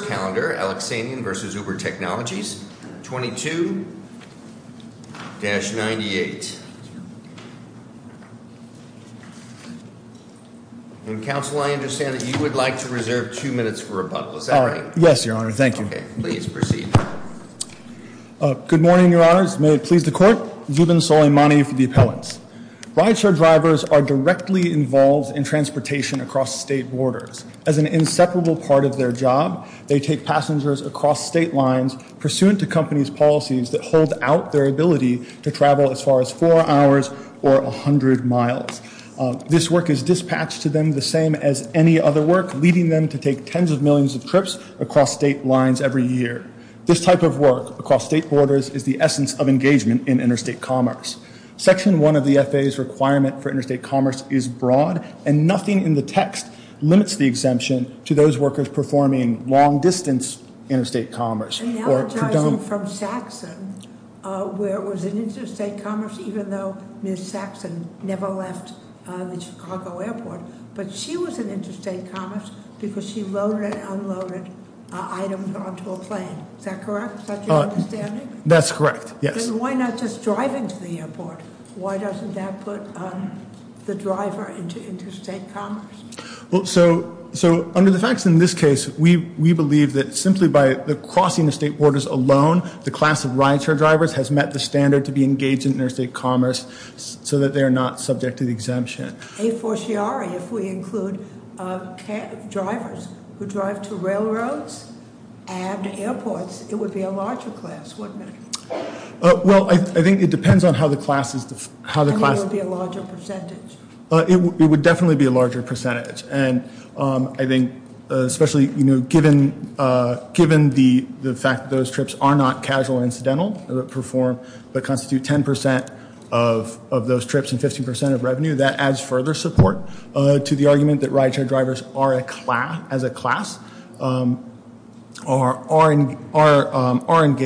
First calendar, Aleksanian v. Uber Technologies, 22-98. And counsel, I understand that you would like to reserve two minutes for rebuttal, is that right? Yes, your honor, thank you. Okay, please proceed. Good morning, your honors. May it please the court. Zubin Soleimani for the appellants. Rideshare drivers are directly involved in transportation across state borders. As an inseparable part of their job, they take passengers across state lines pursuant to company's policies that hold out their ability to travel as far as four hours or 100 miles. This work is dispatched to them the same as any other work, leading them to take tens of millions of trips across state lines every year. This type of work across state borders is the essence of engagement in interstate commerce. Section one of the FAA's requirement for interstate commerce is broad, and nothing in the text limits the exemption to those workers performing long distance interstate commerce. Or- Analogizing from Saxon, where it was an interstate commerce, even though Ms. Saxon never left the Chicago airport. But she was in interstate commerce because she loaded and unloaded items onto a plane, is that correct? Is that your understanding? That's correct, yes. Then why not just drive into the airport? Why doesn't that put the driver into interstate commerce? Well, so under the facts in this case, we believe that simply by the crossing of state borders alone, the class of rideshare drivers has met the standard to be engaged in interstate commerce so that they are not subject to the exemption. A forciari, if we include drivers who drive to railroads and airports, it would be a larger class, wouldn't it? Well, I think it depends on how the class is, how the class- And it would be a larger percentage. It would definitely be a larger percentage. And I think, especially given the fact that those trips are not casual or incidental, but constitute 10% of those trips and 15% of revenue, that adds further support to the argument that rideshare drivers are a class, as a class, are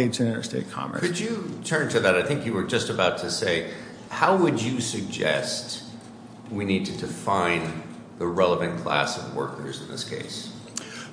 engaged in interstate commerce. Could you turn to that? I think you were just about to say, how would you suggest we need to define the relevant class of workers in this case?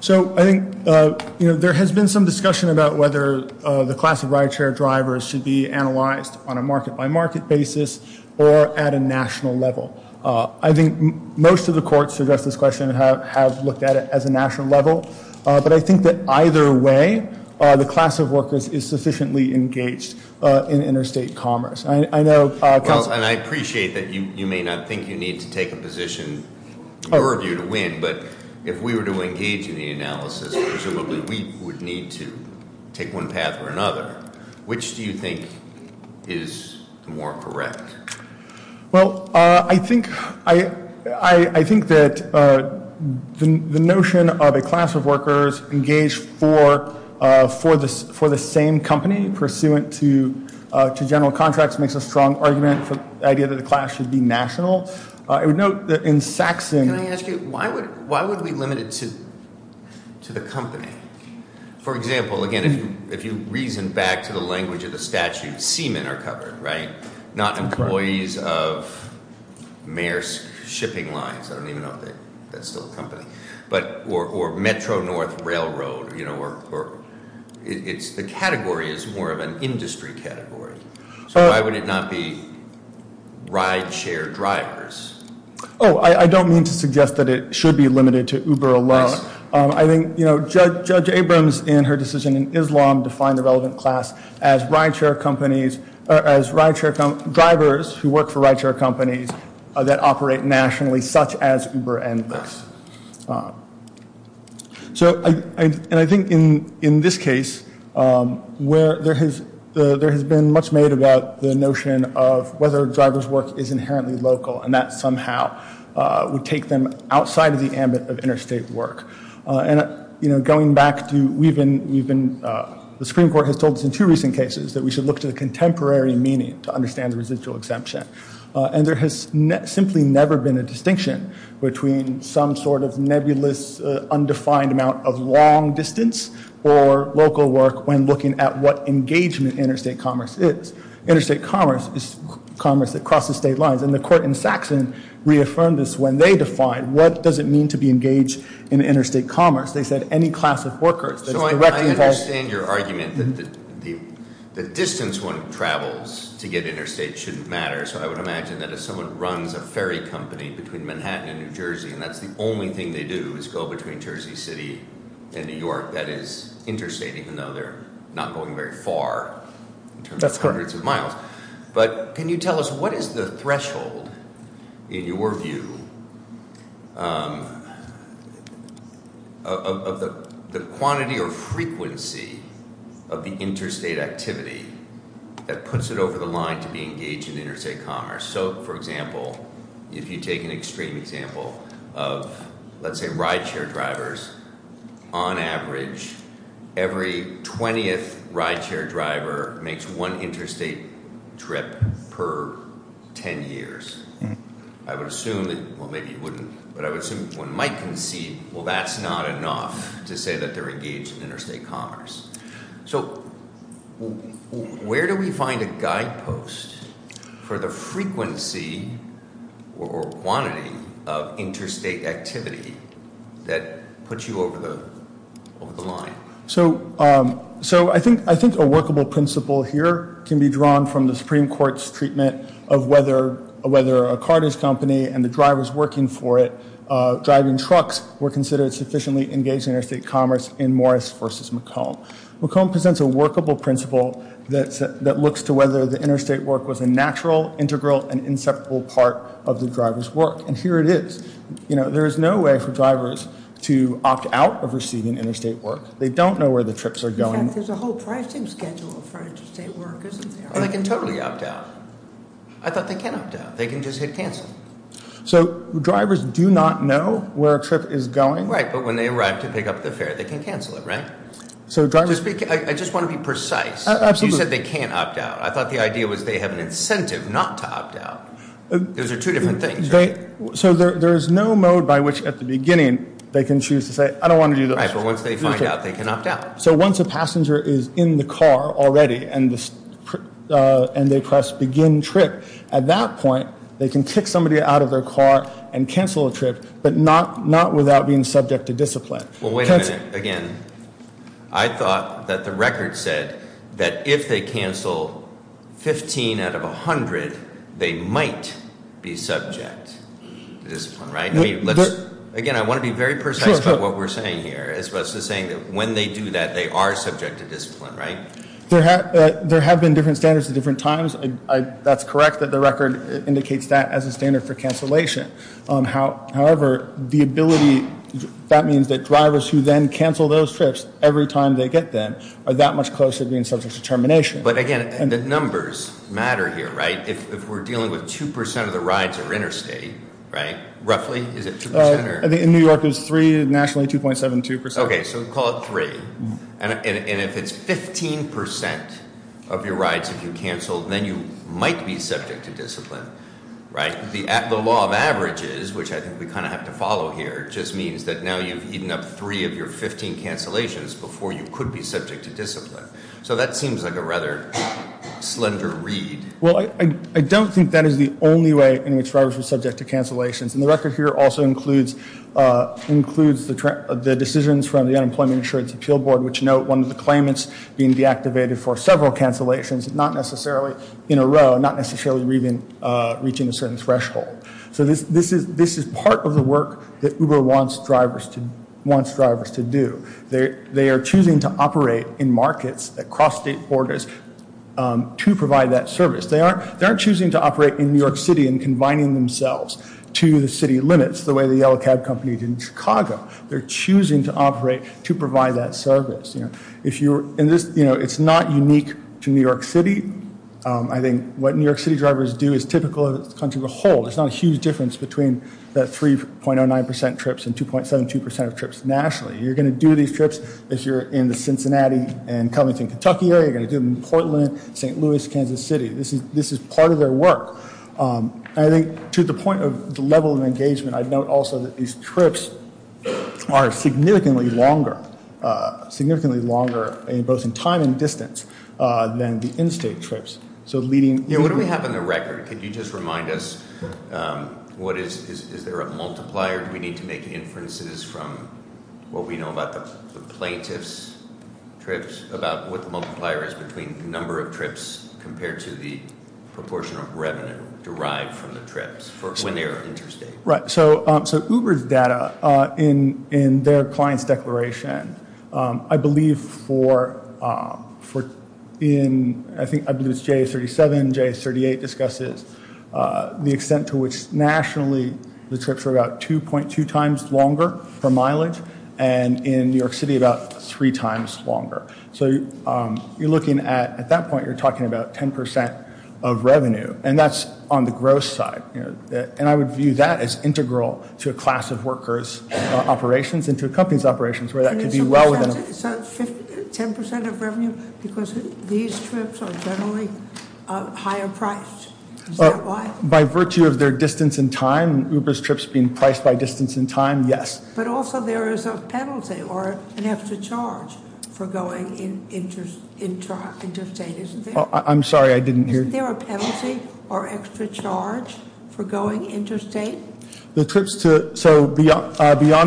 So, I think there has been some discussion about whether the class of rideshare drivers should be analyzed on a market by market basis or at a national level. I think most of the courts to address this question have looked at it as a national level. But I think that either way, the class of workers is sufficiently engaged in interstate commerce. I know- Well, and I appreciate that you may not think you need to take a position, in your view, to win. But if we were to engage in the analysis, presumably we would need to take one path or another. Which do you think is more correct? Well, I think that the notion of a class of workers engaged for the same company pursuant to general contracts makes a strong argument for the idea that the class should be national. I would note that in Saxon- Can I ask you, why would we limit it to the company? For example, again, if you reason back to the language of the statute, seamen are covered, right? Not employees of Mayor's Shipping Lines, I don't even know if that's still a company. But, or Metro North Railroad, or the category is more of an industry category. So why would it not be rideshare drivers? I don't mean to suggest that it should be limited to Uber alone. I think Judge Abrams in her decision in Islam defined the relevant class as drivers who work for rideshare companies that operate nationally, such as Uber and Lyft. So, and I think in this case, there has been much made about the notion of whether a driver's work is inherently local, and that somehow would take them outside of the ambit of interstate work. And going back to, we've been, the Supreme Court has told us in two recent cases that we should look to the contemporary meaning to understand the residual exemption. And there has simply never been a distinction between some sort of nebulous, undefined amount of long distance or local work when looking at what engagement interstate commerce is. Interstate commerce is commerce that crosses state lines, and the court in Saxon reaffirmed this when they defined, what does it mean to be engaged in interstate commerce? They said, any class of workers that's directly involved- So I understand your argument that the distance one travels to get interstate shouldn't matter. So I would imagine that if someone runs a ferry company between Manhattan and New Jersey, and that's the only thing they do is go between Jersey City and New York, that is interstate, even though they're not going very far in terms of hundreds of miles. But can you tell us, what is the threshold, in your view, of the quantity or frequency of the interstate activity that puts it over the line to be engaged in interstate commerce? So, for example, if you take an extreme example of, let's say, ride share drivers, on average, every 20th ride share driver makes one interstate trip per ten years. I would assume that, well maybe you wouldn't, but I would assume one might concede, well that's not enough to say that they're engaged in interstate commerce. So, where do we find a guide post for the frequency or quantity of interstate activity that puts you over the line? So, I think a workable principle here can be drawn from the Supreme Court's treatment of whether a carters company and the drivers working for it, driving trucks, were considered sufficiently engaged in interstate commerce in Morris versus McComb. McComb presents a workable principle that looks to whether the interstate work was a natural, integral, and inseparable part of the driver's work, and here it is. There is no way for drivers to opt out of receiving interstate work. They don't know where the trips are going. In fact, there's a whole pricing schedule for interstate work, isn't there? They can totally opt out. I thought they can opt out. They can just hit cancel. So, drivers do not know where a trip is going? Right, but when they arrive to pick up the fare, they can cancel it, right? So drivers- I just want to be precise. Absolutely. You said they can't opt out. I thought the idea was they have an incentive not to opt out. Those are two different things, right? So there's no mode by which, at the beginning, they can choose to say, I don't want to do this. Right, but once they find out, they can opt out. So once a passenger is in the car already, and they press begin trip, at that point, they can kick somebody out of their car and cancel a trip, but not without being subject to discipline. Well, wait a minute. Again, I thought that the record said that if they cancel 15 out of 100, they might be subject to discipline, right? Again, I want to be very precise about what we're saying here, as opposed to saying that when they do that, they are subject to discipline, right? There have been different standards at different times. That's correct, that the record indicates that as a standard for cancellation. However, that means that drivers who then cancel those trips every time they get them are that much closer to being subject to termination. But again, the numbers matter here, right? If we're dealing with 2% of the rides are interstate, right? Roughly, is it 2% or? I think in New York it was 3, nationally 2.72%. Okay, so call it 3. And if it's 15% of your rides that you cancel, then you might be subject to discipline, right? The law of averages, which I think we kind of have to follow here, just means that now you've eaten up three of your 15 cancellations before you could be subject to discipline. So that seems like a rather slender read. Well, I don't think that is the only way in which drivers are subject to cancellations. And the record here also includes the decisions from the Unemployment Insurance Appeal Board, which note one of the claimants being deactivated for several cancellations, not necessarily in a row, not necessarily even reaching a certain threshold. So this is part of the work that Uber wants drivers to do. They are choosing to operate in markets across state borders to provide that service. They aren't choosing to operate in New York City and combining themselves to the city limits the way the Yellow Cab Company did in Chicago. They're choosing to operate to provide that service. It's not unique to New York City. I think what New York City drivers do is typical of the country as a whole. There's not a huge difference between that 3.09% trips and 2.72% of trips nationally. You're going to do these trips as you're in the Cincinnati and Covington, Kentucky area. You're going to do them in Portland, St. Louis, Kansas City. This is part of their work. I think to the point of the level of engagement, I'd note also that these trips are significantly longer, significantly longer both in time and distance than the in-state trips. So leading- Yeah, what do we have in the record? Could you just remind us what is, is there a multiplier? Do we need to make inferences from what we know about the plaintiff's trips, about what the multiplier is between the number of trips compared to the proportion of revenue derived from the trips for when they are interstate? Right, so Uber's data in their client's declaration, I believe for in, I think I believe it's J37, J38 discusses the extent to which nationally the trips are about 2.2 times longer for mileage and in New York City about three times longer. So you're looking at, at that point you're talking about 10% of revenue and that's on the gross side. And I would view that as integral to a class of workers' operations and to a company's operations where that could be well within- So 10% of revenue because these trips are generally higher priced, is that why? By virtue of their distance in time, Uber's trips being priced by distance in time, yes. But also there is a penalty or an extra charge for going interstate, isn't there? I'm sorry, I didn't hear. Isn't there a penalty or extra charge for going interstate? The trips to, so beyond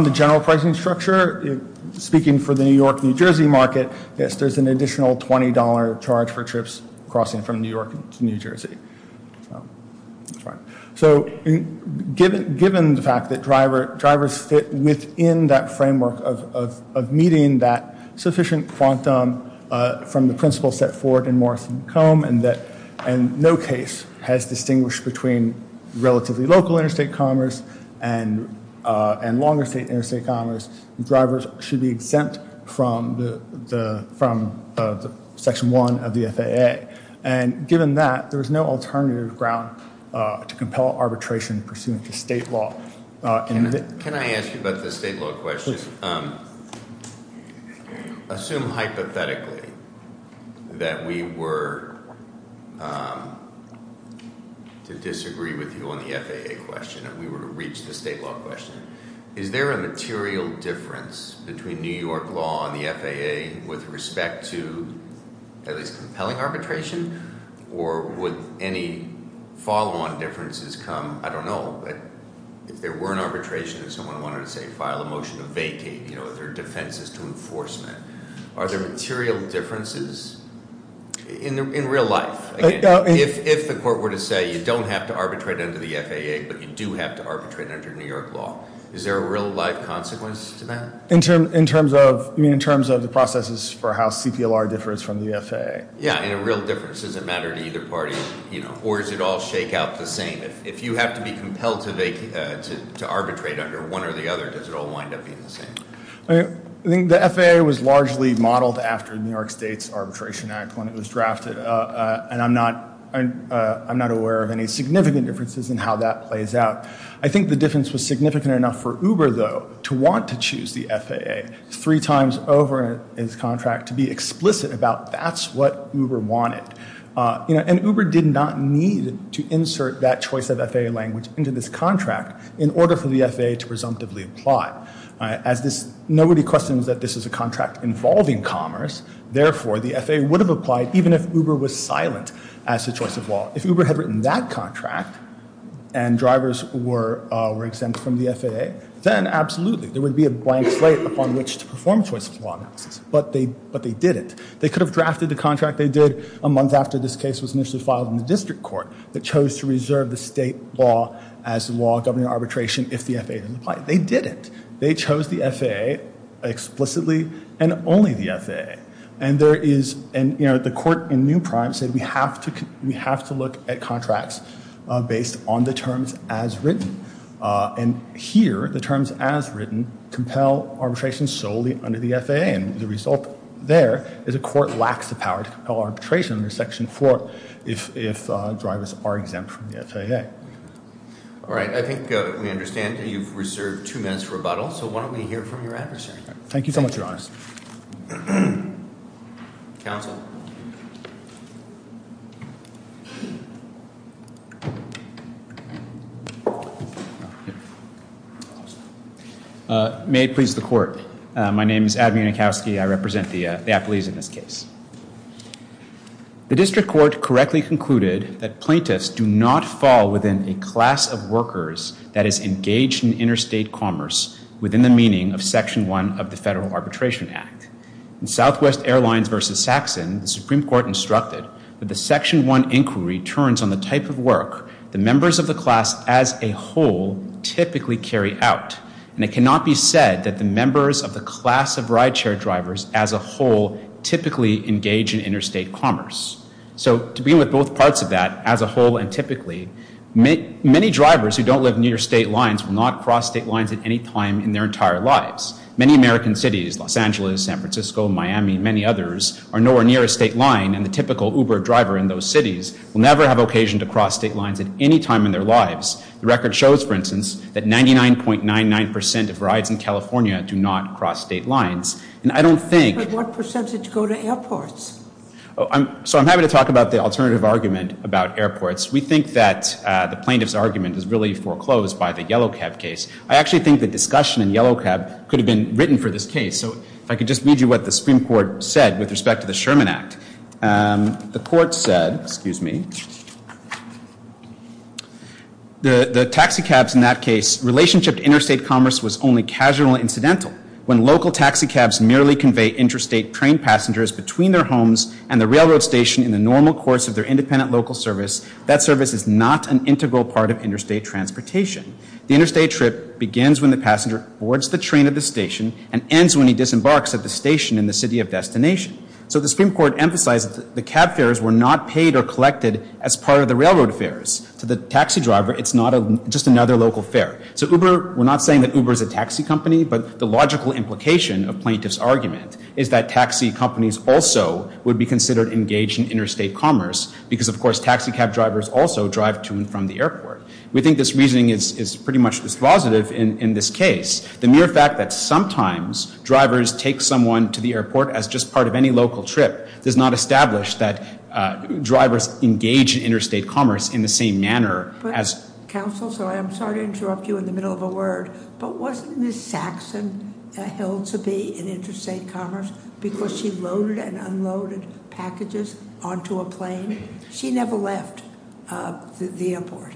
the general pricing structure, speaking for the New York, New Jersey market, yes, there's an additional $20 charge for trips crossing from New York to New Jersey. So given the fact that drivers fit within that framework of meeting that sufficient quantum from the principle set forward in Morris and Combe and no case has distinguished between relatively local interstate commerce and longer state interstate commerce, drivers should be exempt from the section one of the FAA. And given that, there's no alternative ground to compel arbitration pursuant to state law. And- Can I ask you about the state law question? Assume hypothetically, that we were to disagree with you on the FAA question. And we were to reach the state law question. Is there a material difference between New York law and the FAA with respect to at least compelling arbitration? Or would any follow on differences come? I don't know, but if there were an arbitration and someone wanted to say file a motion to vacate their defenses to enforcement. Are there material differences in real life? If the court were to say, you don't have to arbitrate under the FAA, but you do have to arbitrate under New York law. Is there a real life consequence to that? In terms of the processes for how CPLR differs from the FAA. Yeah, and a real difference doesn't matter to either party, or does it all shake out the same? If you have to be compelled to arbitrate under one or the other, does it all wind up being the same? I think the FAA was largely modeled after New York State's Arbitration Act when it was drafted. And I'm not aware of any significant differences in how that plays out. I think the difference was significant enough for Uber, though, to want to choose the FAA three times over its contract to be explicit about that's what Uber wanted. And Uber did not need to insert that choice of FAA language into this contract in order for the FAA to presumptively apply. As nobody questions that this is a contract involving commerce, therefore, the FAA would have applied even if Uber was silent as to choice of law. If Uber had written that contract and drivers were exempt from the FAA, then absolutely, there would be a blank slate upon which to perform choice of law analysis. But they didn't. They could have drafted the contract they did a month after this case was initially filed in the district court that chose to reserve the state law as the law governing arbitration if the FAA didn't apply. They didn't. They chose the FAA explicitly and only the FAA. And the court in New Prime said we have to look at contracts based on the terms as written. And here, the terms as written compel arbitration solely under the FAA. And the result there is a court lacks the power to compel arbitration under section four if drivers are exempt from the FAA. All right, I think we understand that you've reserved two minutes for rebuttal. So why don't we hear from your adversary? Thank you so much, your honors. Counsel. May it please the court. My name is Adam Yankowski. I represent the appellees in this case. The district court correctly concluded that plaintiffs do not fall within a class of workers that is engaged in interstate commerce within the meaning of section one of the Federal Arbitration Act. In Southwest Airlines versus Saxon, the Supreme Court instructed that the section one inquiry turns on the type of work the members of the class as a whole typically carry out. And it cannot be said that the members of the class of ride share drivers as a whole typically engage in interstate commerce. So to be with both parts of that, as a whole and typically, many drivers who don't live near state lines will not cross state lines at any time in their entire lives. Many American cities, Los Angeles, San Francisco, Miami, many others are nowhere near a state line. And the typical Uber driver in those cities will never have occasion to cross state lines at any time in their lives. The record shows, for instance, that 99.99% of rides in California do not cross state lines. And I don't think- But what percentage go to airports? So I'm happy to talk about the alternative argument about airports. We think that the plaintiff's argument is really foreclosed by the Yellow Cab case. I actually think the discussion in Yellow Cab could have been written for this case. So if I could just read you what the Supreme Court said with respect to the Sherman Act. The court said, excuse me, the taxi cabs in that case relationship to interstate commerce was only casual and incidental. When local taxi cabs merely convey interstate train passengers between their homes and the railroad station in the normal course of their independent local service, that service is not an integral part of interstate transportation. The interstate trip begins when the passenger boards the train at the station and ends when he disembarks at the station in the city of destination. So the Supreme Court emphasized that the cab fares were not paid or collected as part of the railroad fares. To the taxi driver, it's not just another local fare. So Uber, we're not saying that Uber is a taxi company, but the logical implication of plaintiff's argument is that taxi companies also would be considered engaged in interstate commerce. Because of course, taxi cab drivers also drive to and from the airport. We think this reasoning is pretty much dispositive in this case. The mere fact that sometimes drivers take someone to the airport as just part of any local trip does not establish that drivers engage in interstate commerce in the same manner as- Counsel, so I'm sorry to interrupt you in the middle of a word. But wasn't Ms. Saxon held to be in interstate commerce because she loaded and unloaded packages onto a plane? She never left the airport.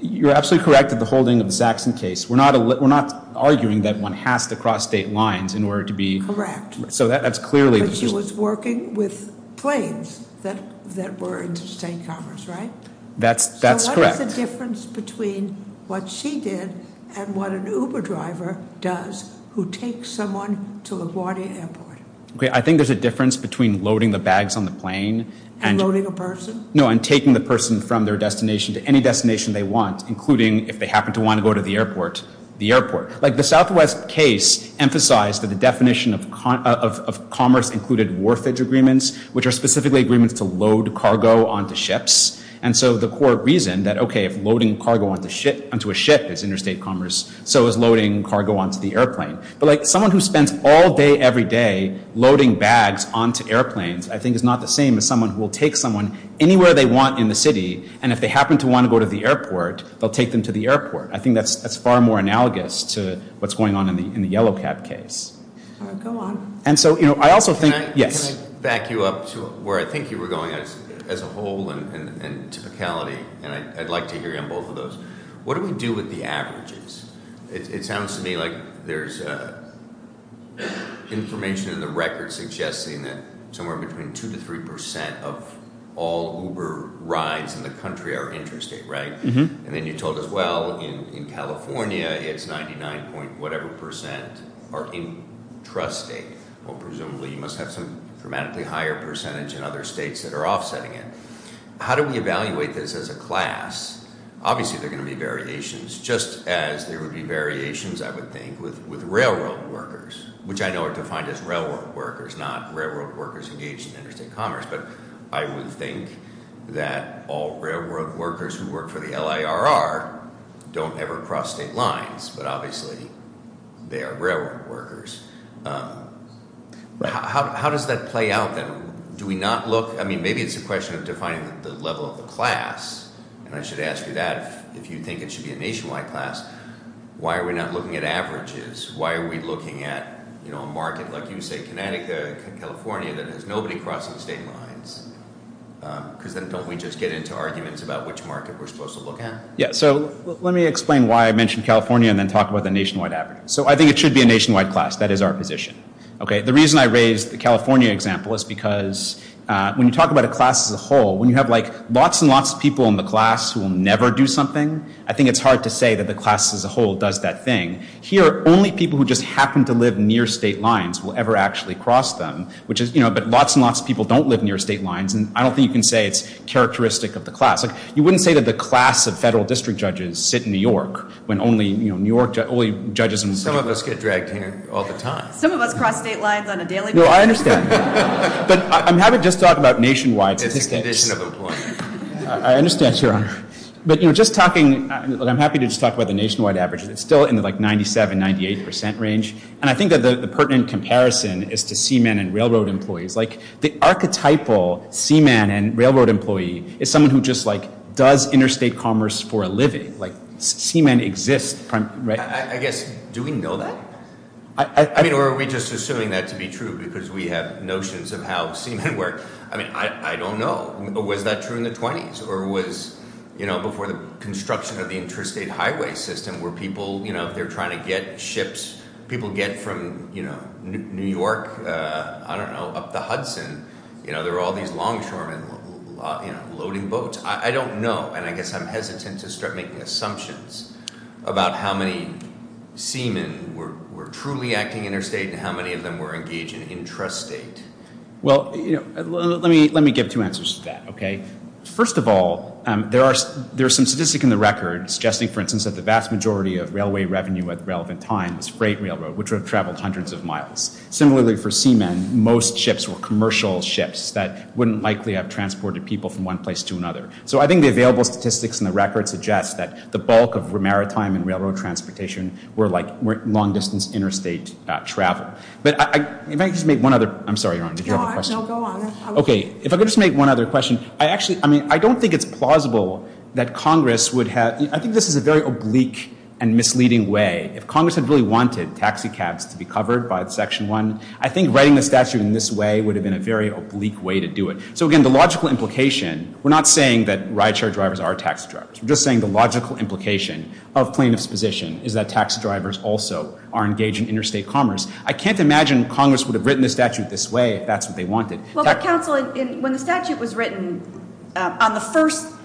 You're absolutely correct in the holding of the Saxon case. We're not arguing that one has to cross state lines in order to be- Correct. So that's clearly- But she was working with planes that were interstate commerce, right? That's correct. What's the difference between what she did and what an Uber driver does who takes someone to LaGuardia Airport? Okay, I think there's a difference between loading the bags on the plane and- And loading a person? No, and taking the person from their destination to any destination they want, including if they happen to want to go to the airport, the airport. Like the Southwest case emphasized that the definition of commerce included warfare agreements, which are specifically agreements to load cargo onto ships. And so the core reason that, okay, if loading cargo onto a ship is interstate commerce, so is loading cargo onto the airplane. But someone who spends all day every day loading bags onto airplanes, I think is not the same as someone who will take someone anywhere they want in the city. And if they happen to want to go to the airport, they'll take them to the airport. I think that's far more analogous to what's going on in the Yellow Cab case. Go on. And so I also think- Yes. Let me back you up to where I think you were going as a whole and typicality, and I'd like to hear you on both of those. What do we do with the averages? It sounds to me like there's information in the record suggesting that somewhere between 2 to 3% of all Uber rides in the country are interstate, right? And then you told us, well, in California, it's 99 point whatever percent are intrastate. Well, presumably, you must have some dramatically higher percentage in other states that are offsetting it. How do we evaluate this as a class? Obviously, there are going to be variations, just as there would be variations, I would think, with railroad workers, which I know are defined as railroad workers, not railroad workers engaged in interstate commerce. But I would think that all railroad workers who work for the LIRR don't ever cross state lines, but obviously, they are railroad workers. How does that play out, then? Do we not look, I mean, maybe it's a question of defining the level of the class, and I should ask you that. If you think it should be a nationwide class, why are we not looking at averages? Why are we looking at a market, like you say, Connecticut, California, that has nobody crossing state lines? because then don't we just get into arguments about which market we're supposed to look at? Yeah, so let me explain why I mentioned California and then talk about the nationwide average. So I think it should be a nationwide class. That is our position. Okay, the reason I raised the California example is because when you talk about a class as a whole, when you have lots and lots of people in the class who will never do something, I think it's hard to say that the class as a whole does that thing. Here, only people who just happen to live near state lines will ever actually cross them. But lots and lots of people don't live near state lines, and I don't think you can say it's characteristic of the class. You wouldn't say that the class of federal district judges sit in New York, when only New York judges and- Some of us get dragged here all the time. Some of us cross state lines on a daily basis. No, I understand. But I'm happy to just talk about nationwide statistics. It's a condition of employment. I understand, Your Honor. But, you know, just talking, I'm happy to just talk about the nationwide averages. It's still in the, like, 97, 98 percent range. And I think that the pertinent comparison is to seamen and railroad employees. Like, the archetypal seaman and railroad employee is someone who just, like, does interstate commerce for a living. Like, seamen exist, right? I mean, I guess, do we know that? I mean, or are we just assuming that to be true, because we have notions of how seamen work? I mean, I don't know. Was that true in the 20s, or was, you know, before the construction of the interstate highway system, where people, you know, if they're trying to get ships, people get from, you know, New York, I don't know, up to Hudson. You know, there were all these longshoremen, you know, loading boats. I don't know, and I guess I'm hesitant to start making assumptions about how many seamen were truly acting interstate and how many of them were engaged in intrastate. Well, you know, let me give two answers to that, okay? First of all, there are some statistics in the record suggesting, for instance, that the vast majority of railway revenue at the relevant time was freight railroad, which would have traveled hundreds of miles. Similarly, for seamen, most ships were commercial ships that wouldn't likely have transported people from one place to another. So I think the available statistics in the record suggest that the bulk of maritime and railroad transportation were, like, long-distance interstate travel. But if I could just make one other—I'm sorry, Your Honor, did you have a question? No, go on. Okay, if I could just make one other question. I actually—I mean, I don't think it's plausible that Congress would have—I think this is a very oblique and misleading way. If Congress had really wanted taxi cabs to be covered by Section 1, I think writing the statute in this way would have been a very oblique way to do it. So again, the logical implication—we're not saying that rideshare drivers are taxi drivers. We're just saying the logical implication of plaintiffs' position is that taxi drivers also are engaged in interstate commerce. I can't imagine Congress would have written the statute this way if that's what they wanted. Well, but, counsel, when the statute was written on the first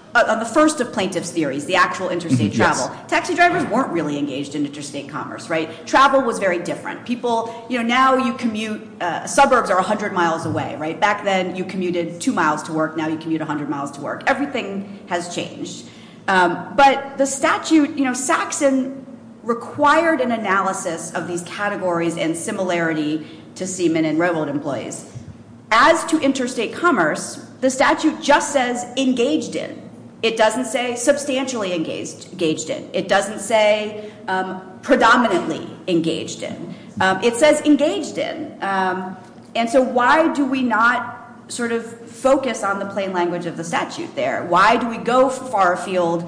of plaintiffs' theories, the actual interstate travel, taxi drivers weren't really engaged in interstate commerce, right? Travel was very different. People—you know, now you commute—suburbs are 100 miles away, right? Back then you commuted 2 miles to work. Now you commute 100 miles to work. Everything has changed. But the statute—you know, Saxon required an analysis of these categories and similarity to seamen and railroad employees. As to interstate commerce, the statute just says engaged in. It doesn't say substantially engaged in. It doesn't say predominantly engaged in. It says engaged in. And so why do we not sort of focus on the plain language of the statute there? Why do we go far afield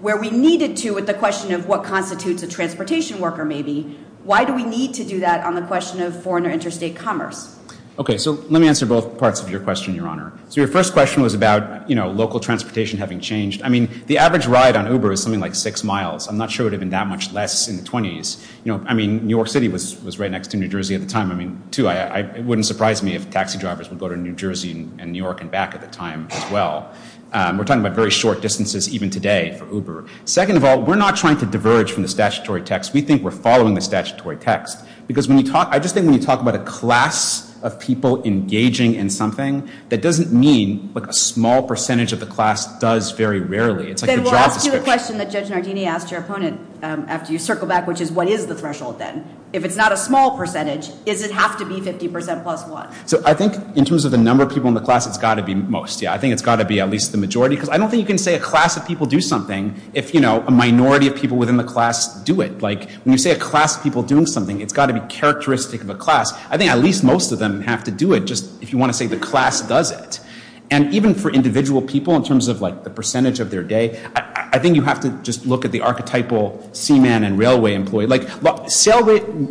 where we needed to with the question of what constitutes a transportation worker, maybe? Why do we need to do that on the question of foreign or interstate commerce? Okay, so let me answer both parts of your question, Your Honor. So your first question was about, you know, local transportation having changed. I mean, the average ride on Uber is something like 6 miles. I'm not sure it would have been that much less in the 20s. You know, I mean, New York City was right next to New Jersey at the time. I mean, too, it wouldn't surprise me if taxi drivers would go to New Jersey and New York and back at the time as well. We're talking about very short distances even today for Uber. Second of all, we're not trying to diverge from the statutory text. We think we're following the statutory text. Because when you talk, I just think when you talk about a class of people engaging in something, that doesn't mean like a small percentage of the class does very rarely. It's like the job description. Then we'll ask you the question that Judge Nardini asked your opponent after you circle back, which is what is the threshold then? If it's not a small percentage, does it have to be 50% plus one? So I think in terms of the number of people in the class, it's got to be most, yeah. I think it's got to be at least the majority. Because I don't think you can say a class of people do something if, you know, a minority of people within the class do it. When you say a class of people doing something, it's got to be characteristic of a class. I think at least most of them have to do it just if you want to say the class does it. And even for individual people in terms of like the percentage of their day, I think you have to just look at the archetypal seaman and railway employee. Like, look,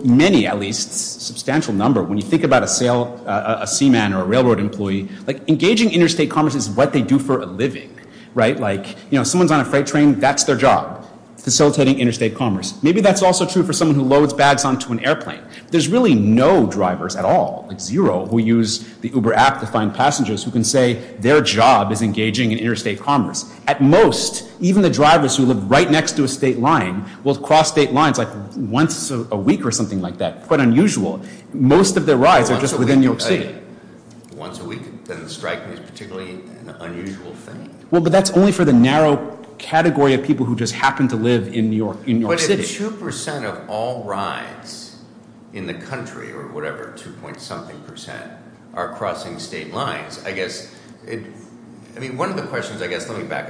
many at least, a substantial number, when you think about a seaman or a railroad employee, like engaging interstate commerce is what they do for a living, right? Like, you know, someone's on a freight train. That's their job, facilitating interstate commerce. Maybe that's also true for someone who loads bags onto an airplane. There's really no drivers at all, like zero, who use the Uber app to find passengers who can say their job is engaging in interstate commerce. At most, even the drivers who live right next to a state line will cross state lines like once a week or something like that. Quite unusual. Most of their rides are just within New York City. Once a week, then the strike is particularly an unusual thing. Well, but that's only for the narrow category of people who just happen to live in New York City. But if 2% of all rides in the country, or whatever, 2 point something percent are crossing state lines, I guess it, I mean, one of the questions, I guess, let me back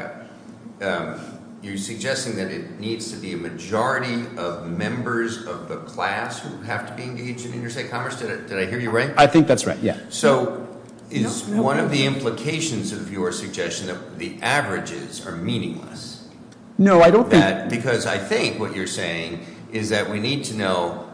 up. You're suggesting that it needs to be a majority of members of the class who have to be engaged in interstate commerce? Did I hear you right? I think that's right, yeah. So is one of the implications of your suggestion that the averages are meaningless? No, I don't think. Because I think what you're saying is that we need to know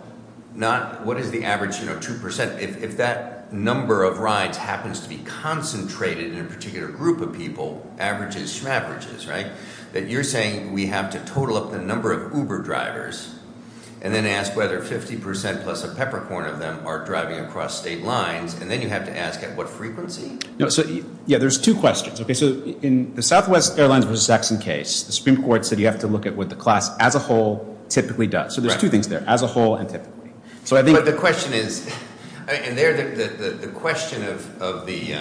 not what is the average, you know, 2%, if that number of rides happens to be concentrated in a particular group of people, averages, shmaverages, right? That you're saying we have to total up the number of Uber drivers and then ask whether 50% plus a peppercorn of them are driving across state lines, and then you have to ask at what frequency? No, so, yeah, there's two questions. Okay, so in the Southwest Airlines versus Saxon case, the Supreme Court said you have to look at what the class as a whole typically does. So there's two things there, as a whole and typically. But the question is, and the question of the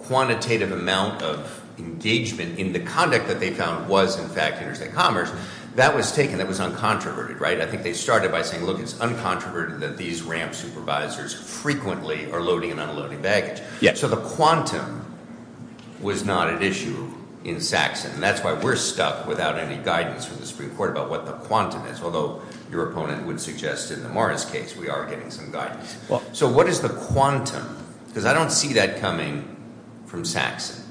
quantitative amount of engagement in the conduct that they found was, in fact, interstate commerce, that was taken, that was uncontroverted, right? I think they started by saying, look, it's uncontroverted that these ramp supervisors frequently are loading and unloading baggage. So the quantum was not an issue in Saxon, and that's why we're stuck without any guidance from the Supreme Court about what the quantum is, although your opponent would suggest in the Morris case we are getting some guidance. So what is the quantum? Because I don't see that coming from Saxon.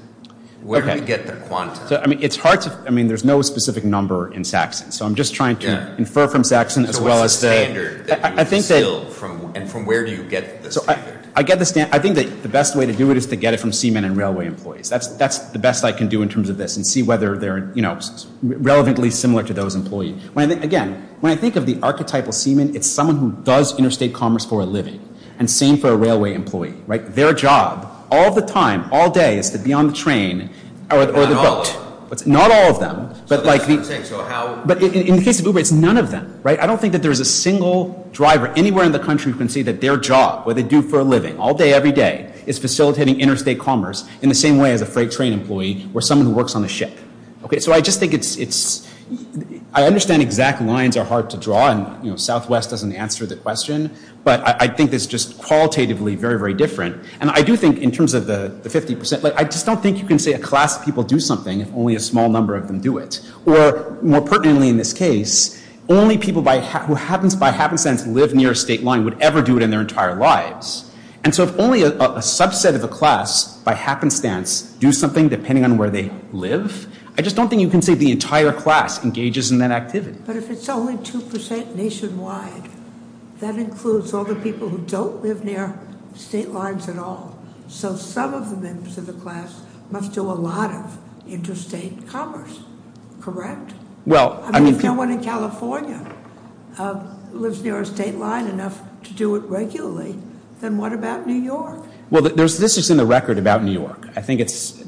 Where do we get the quantum? So, I mean, it's hard to, I mean, there's no specific number in Saxon. So I'm just trying to infer from Saxon as well as the... So what's the standard that you instill, and from where do you get the standard? I think that the best way to do it is to get it from seamen and railway employees. That's the best I can do in terms of this, and see whether they're, you know, relevantly similar to those employees. Again, when I think of the archetypal seaman, it's someone who does interstate commerce for a living, and same for a railway employee, right? Their job, all the time, all day, is to be on the train or the boat. Not all of them. Not all of them. But in the case of Uber, it's none of them, right? I don't think that there's a single driver anywhere in the country that their job, what they do for a living, all day, every day, is facilitating interstate commerce in the same way as a freight train employee or someone who works on a ship, okay? So I just think it's... I understand exact lines are hard to draw, and, you know, Southwest doesn't answer the question, but I think it's just qualitatively very, very different. And I do think, in terms of the 50%, I just don't think you can say a class of people do something if only a small number of them do it. Or, more pertinently in this case, only people who by happenstance live near a state line would ever do it in their entire lives. And so if only a subset of a class, by happenstance, do something depending on where they live, I just don't think you can say the entire class engages in that activity. But if it's only 2% nationwide, that includes all the people who don't live near state lines at all. So some of the members of the class must do a lot of interstate commerce, correct? Well, I mean... Well, this is in the record about New York. I think it's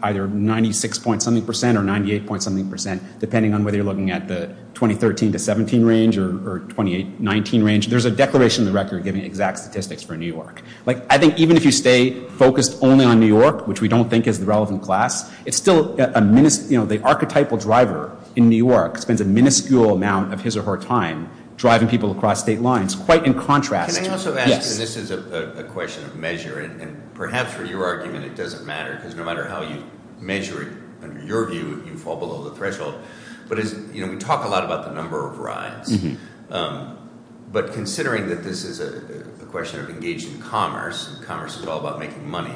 either 96 point something percent or 98 point something percent, depending on whether you're looking at the 2013 to 17 range or 2019 range. There's a declaration in the record giving exact statistics for New York. Like, I think even if you stay focused only on New York, which we don't think is the relevant class, it's still, you know, the archetypal driver in New York spends a minuscule amount of his or her time driving people across state lines. Quite in contrast- Can I also ask, and this is a question of measure, and perhaps for your argument it doesn't matter, because no matter how you measure it, under your view, you fall below the threshold. But as, you know, we talk a lot about the number of rides. But considering that this is a question of engaging commerce, and commerce is all about making money,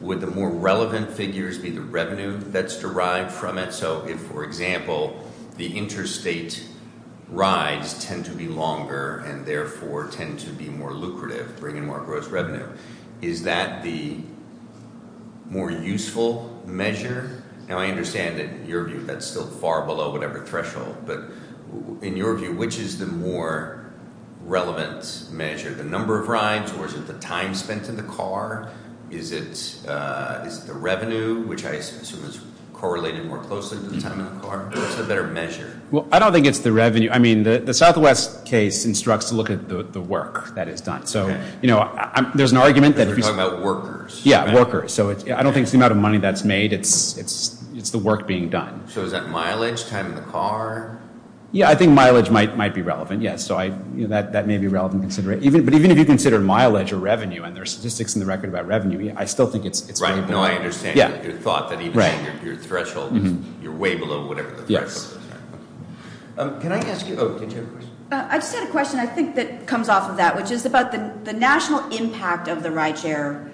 would the more relevant figures be the revenue that's derived from it? So if, for example, the interstate rides tend to be longer and therefore tend to be more lucrative, bringing more gross revenue, is that the more useful measure? Now, I understand that in your view that's still far below whatever threshold, but in your view, which is the more relevant measure? The number of rides, or is it the time spent in the car? Is it the revenue, which I assume is correlated more closely? Or is it a better measure? Well, I don't think it's the revenue. I mean, the Southwest case instructs to look at the work that is done. So, you know, there's an argument that- Because we're talking about workers. Yeah, workers. So I don't think it's the amount of money that's made. It's the work being done. So is that mileage, time in the car? Yeah, I think mileage might be relevant, yes. So that may be relevant consideration. But even if you consider mileage or revenue, and there are statistics in the record about revenue, I still think it's- Right, no, I understand your thought, that even your threshold, you're way below whatever the threshold is. Yes. Can I ask you- Oh, did you have a question? I just had a question, I think, that comes off of that, which is about the national impact of the ride share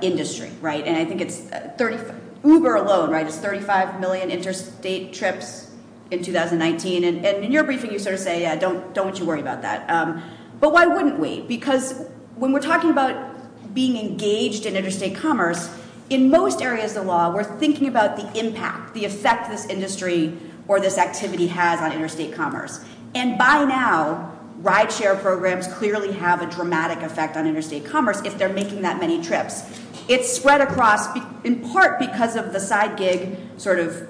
industry, right? And I think it's Uber alone, right? It's 35 million interstate trips in 2019. And in your briefing, you sort of say, yeah, don't you worry about that. But why wouldn't we? Because when we're talking about being engaged in interstate commerce, in most areas of law, we're thinking about the impact, the effect this industry or this activity has on interstate commerce. And by now, ride share programs clearly have a dramatic effect on interstate commerce if they're making that many trips. It's spread across, in part because of the side gig sort of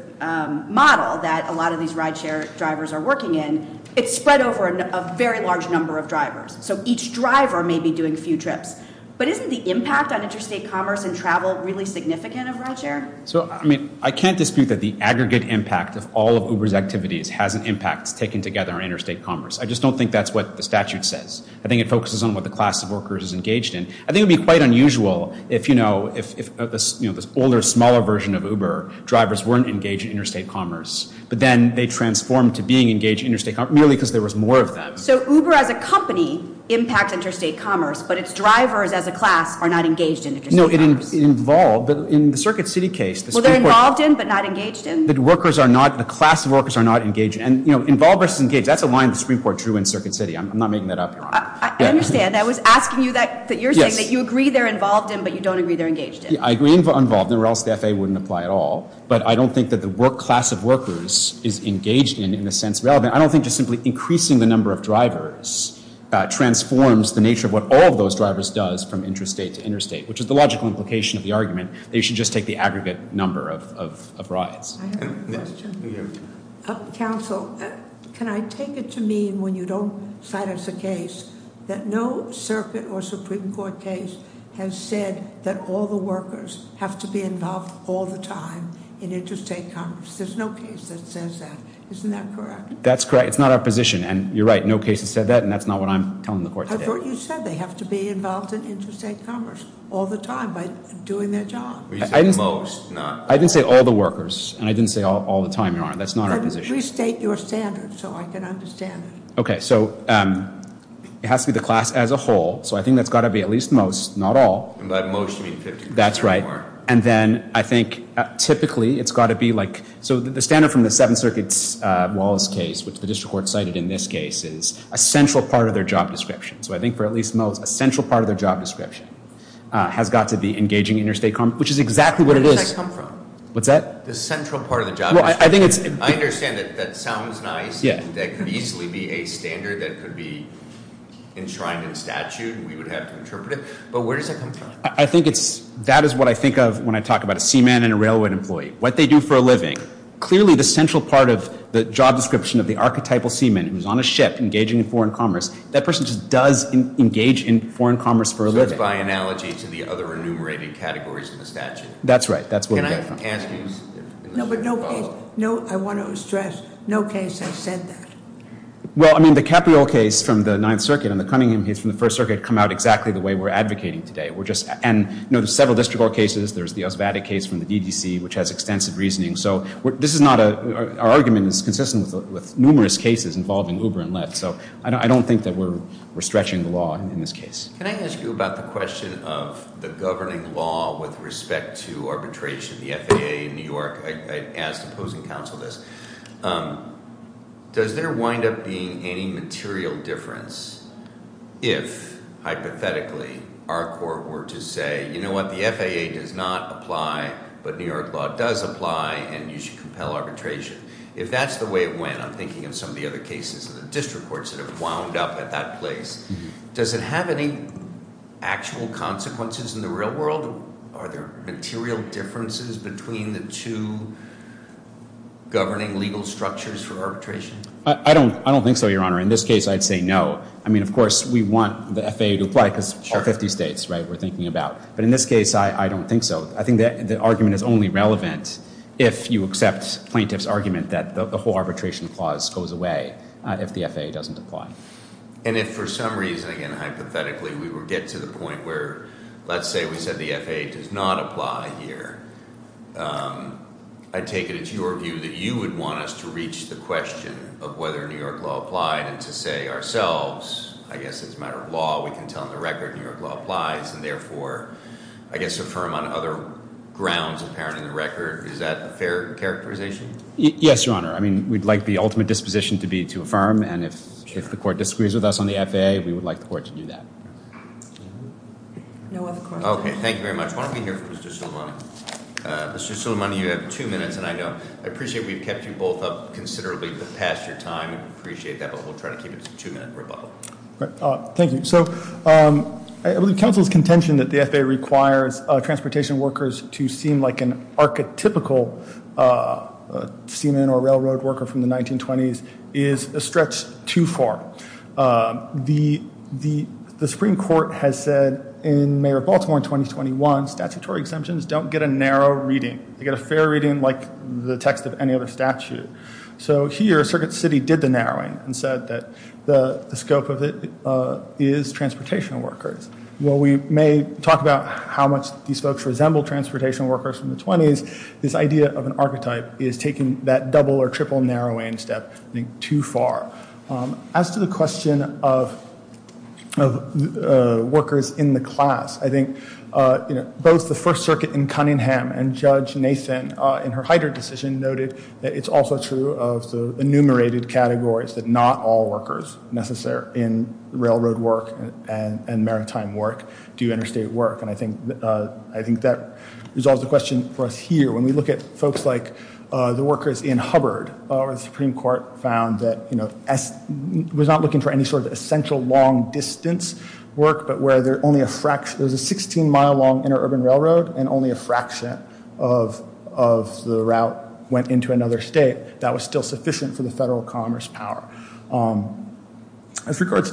model that a lot of these ride share drivers are working in, it's spread over a very large number of drivers. So each driver may be doing a few trips. But isn't the impact on interstate commerce and travel really significant of ride share? So, I mean, I can't dispute that the aggregate impact of all of Uber's activities has an impact taken together on interstate commerce. I just don't think that's what the statute says. I think it focuses on what the class of workers is engaged in. I think it'd be quite unusual if, you know, if this older, smaller version of Uber, drivers weren't engaged in interstate commerce, but then they transformed to being engaged in interstate commerce merely because there was more of them. So Uber as a company impacts interstate commerce, but its drivers as a class are not engaged in interstate commerce. No, it involved, but in the Circuit City case... Well, they're involved in, but not engaged in. The workers are not, the class of workers are not engaged. And, you know, involved versus engaged, that's a line the Supreme Court drew in Circuit City. I'm not making that up, Your Honor. I understand. I was asking you that, that you're saying that you agree they're involved in, but you don't agree they're engaged in. I agree they're involved in, or else the FAA wouldn't apply at all. But I don't think that the work class of workers is engaged in, in the sense relevant. I don't think just simply increasing the number of drivers transforms the nature of what all of those drivers does from interstate to interstate, which is the logical implication of the argument that you should just take the aggregate number of rides. I have a question. Counsel, can I take it to mean when you don't cite us a case that no circuit or Supreme Court case has said that all the workers have to be involved all the time in interstate commerce? There's no case that says that. Isn't that correct? That's correct. It's not our position. And you're right, no case has said that, and that's not what I'm telling the court today. I thought you said they have to be involved in interstate commerce all the time by doing their job. Well, you said most, not... I didn't say all the workers, and I didn't say all the time, Your Honor. That's not our position. Restate your standard so I can understand it. Okay, so it has to be the class as a whole. So I think that's got to be at least most, not all. And by most you mean 50% or more. That's right. And then I think typically it's got to be like... So the standard from the Seventh Circuit's Wallace case, which the district court cited in this case, is a central part of their job description. So I think for at least most, a central part of their job description has got to be engaging interstate commerce, which is exactly what it is. Where does that come from? What's that? The central part of the job description. Well, I think it's... I understand that that sounds nice. Yeah. That could easily be a standard that could be enshrined in statute. We would have to interpret it. But where does that come from? I think that is what I think of when I talk about a seaman and a railway employee, what they do for a living. Clearly the central part of the job description of the archetypal seaman who's on a ship, engaging in foreign commerce, that person just does engage in foreign commerce for a living. So it's by analogy to the other enumerated categories in the statute. That's right. That's where we get from. Can I ask you... No, but no case. I want to stress, no case has said that. Well, I mean, the Capriol case from the Ninth Circuit and the Cunningham case from the First Circuit come out exactly the way we're advocating today. And there's several district court cases. There's the Osvattic case from the DDC, which has extensive reasoning. So this is not a... Our argument is consistent with numerous cases involving Uber and Lyft. So I don't think that we're stretching the law in this case. Can I ask you about the question of the governing law with respect to arbitration? The FAA in New York, I asked opposing counsel this. Does there wind up being any material difference if hypothetically our court were to say, you know what, the FAA does not apply, but New York law does apply and you should compel arbitration. If that's the way it went, I'm thinking of some of the other cases in the district courts that have wound up at that place. Does it have any actual consequences in the real world? Are there material differences between the two governing legal structures for arbitration? I don't think so, Your Honor. In this case, I'd say no. I mean, of course, we want the FAA to apply because all 50 states, right, we're thinking about. But in this case, I don't think so. I think that the argument is only relevant if you accept plaintiff's argument that the whole arbitration clause goes away if the FAA doesn't apply. And if for some reason, again, hypothetically, we would get to the point where, let's say we said the FAA does not apply here, I'd take it it's your view that you would want us to reach the question of whether New York law applied and to say ourselves, I guess it's a matter of law, we can tell on the record New York law applies and therefore, I guess affirm on other grounds apparent in the record. Is that a fair characterization? Yes, Your Honor. I mean, we'd like the ultimate disposition to be to affirm and if the court disagrees with us on the FAA, we would like the court to do that. No other questions. Okay, thank you very much. Why don't we hear from Mr. Suleimani? Mr. Suleimani, you have two minutes and I know, I appreciate we've kept you both up considerably but passed your time. I appreciate that but we'll try to keep it as a two-minute rebuttal. Great, thank you. So I believe counsel's contention that the FAA requires transportation workers to seem like an archetypical seaman or railroad worker from the 1920s is a stretch too far. The Supreme Court has said in Mayor of Baltimore in 2021, statutory exemptions don't get a narrow reading. They get a fair reading like the text of any other statute. So here, Circuit City did the narrowing and said that the scope of it is transportation workers. Well, we may talk about how much these folks resemble transportation workers from the 20s, this idea of an archetype is taking that double or triple narrowing step I think too far. As to the question of workers in the class, I think both the First Circuit in Cunningham and Judge Nathan in her Heider decision noted that it's also true of the enumerated categories that not all workers necessary in railroad work and maritime work do interstate work. I think that resolves the question for us here. When we look at folks like the workers in Hubbard, the Supreme Court found that we're not looking for any sort of essential long distance work, but where there's a 16 mile long interurban railroad and only a fraction of the route went into another state that was still sufficient for the federal commerce power. As regards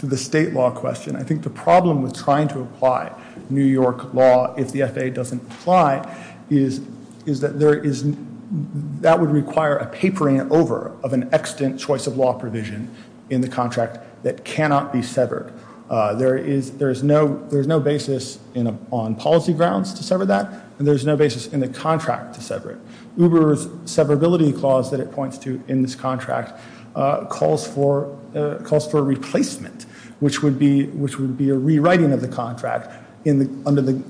to the state law question, I think the problem with trying to apply New York law if the FAA doesn't apply is that that would require a papering over of an extant choice of law provision in the contract that cannot be severed. There's no basis on policy grounds to sever that and there's no basis in the contract to sever it. Uber's severability clause that it points to in this contract calls for a replacement which would be a rewriting of the contract under the,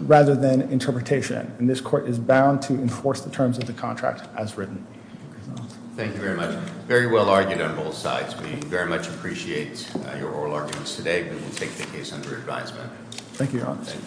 rather than interpretation. And this court is bound to enforce the terms of the contract as written. Thank you, Your Honor. Thank you very much. Very well argued on both sides. We very much appreciate your oral arguments today, but we'll take the case under advisement. Thank you, Your Honor.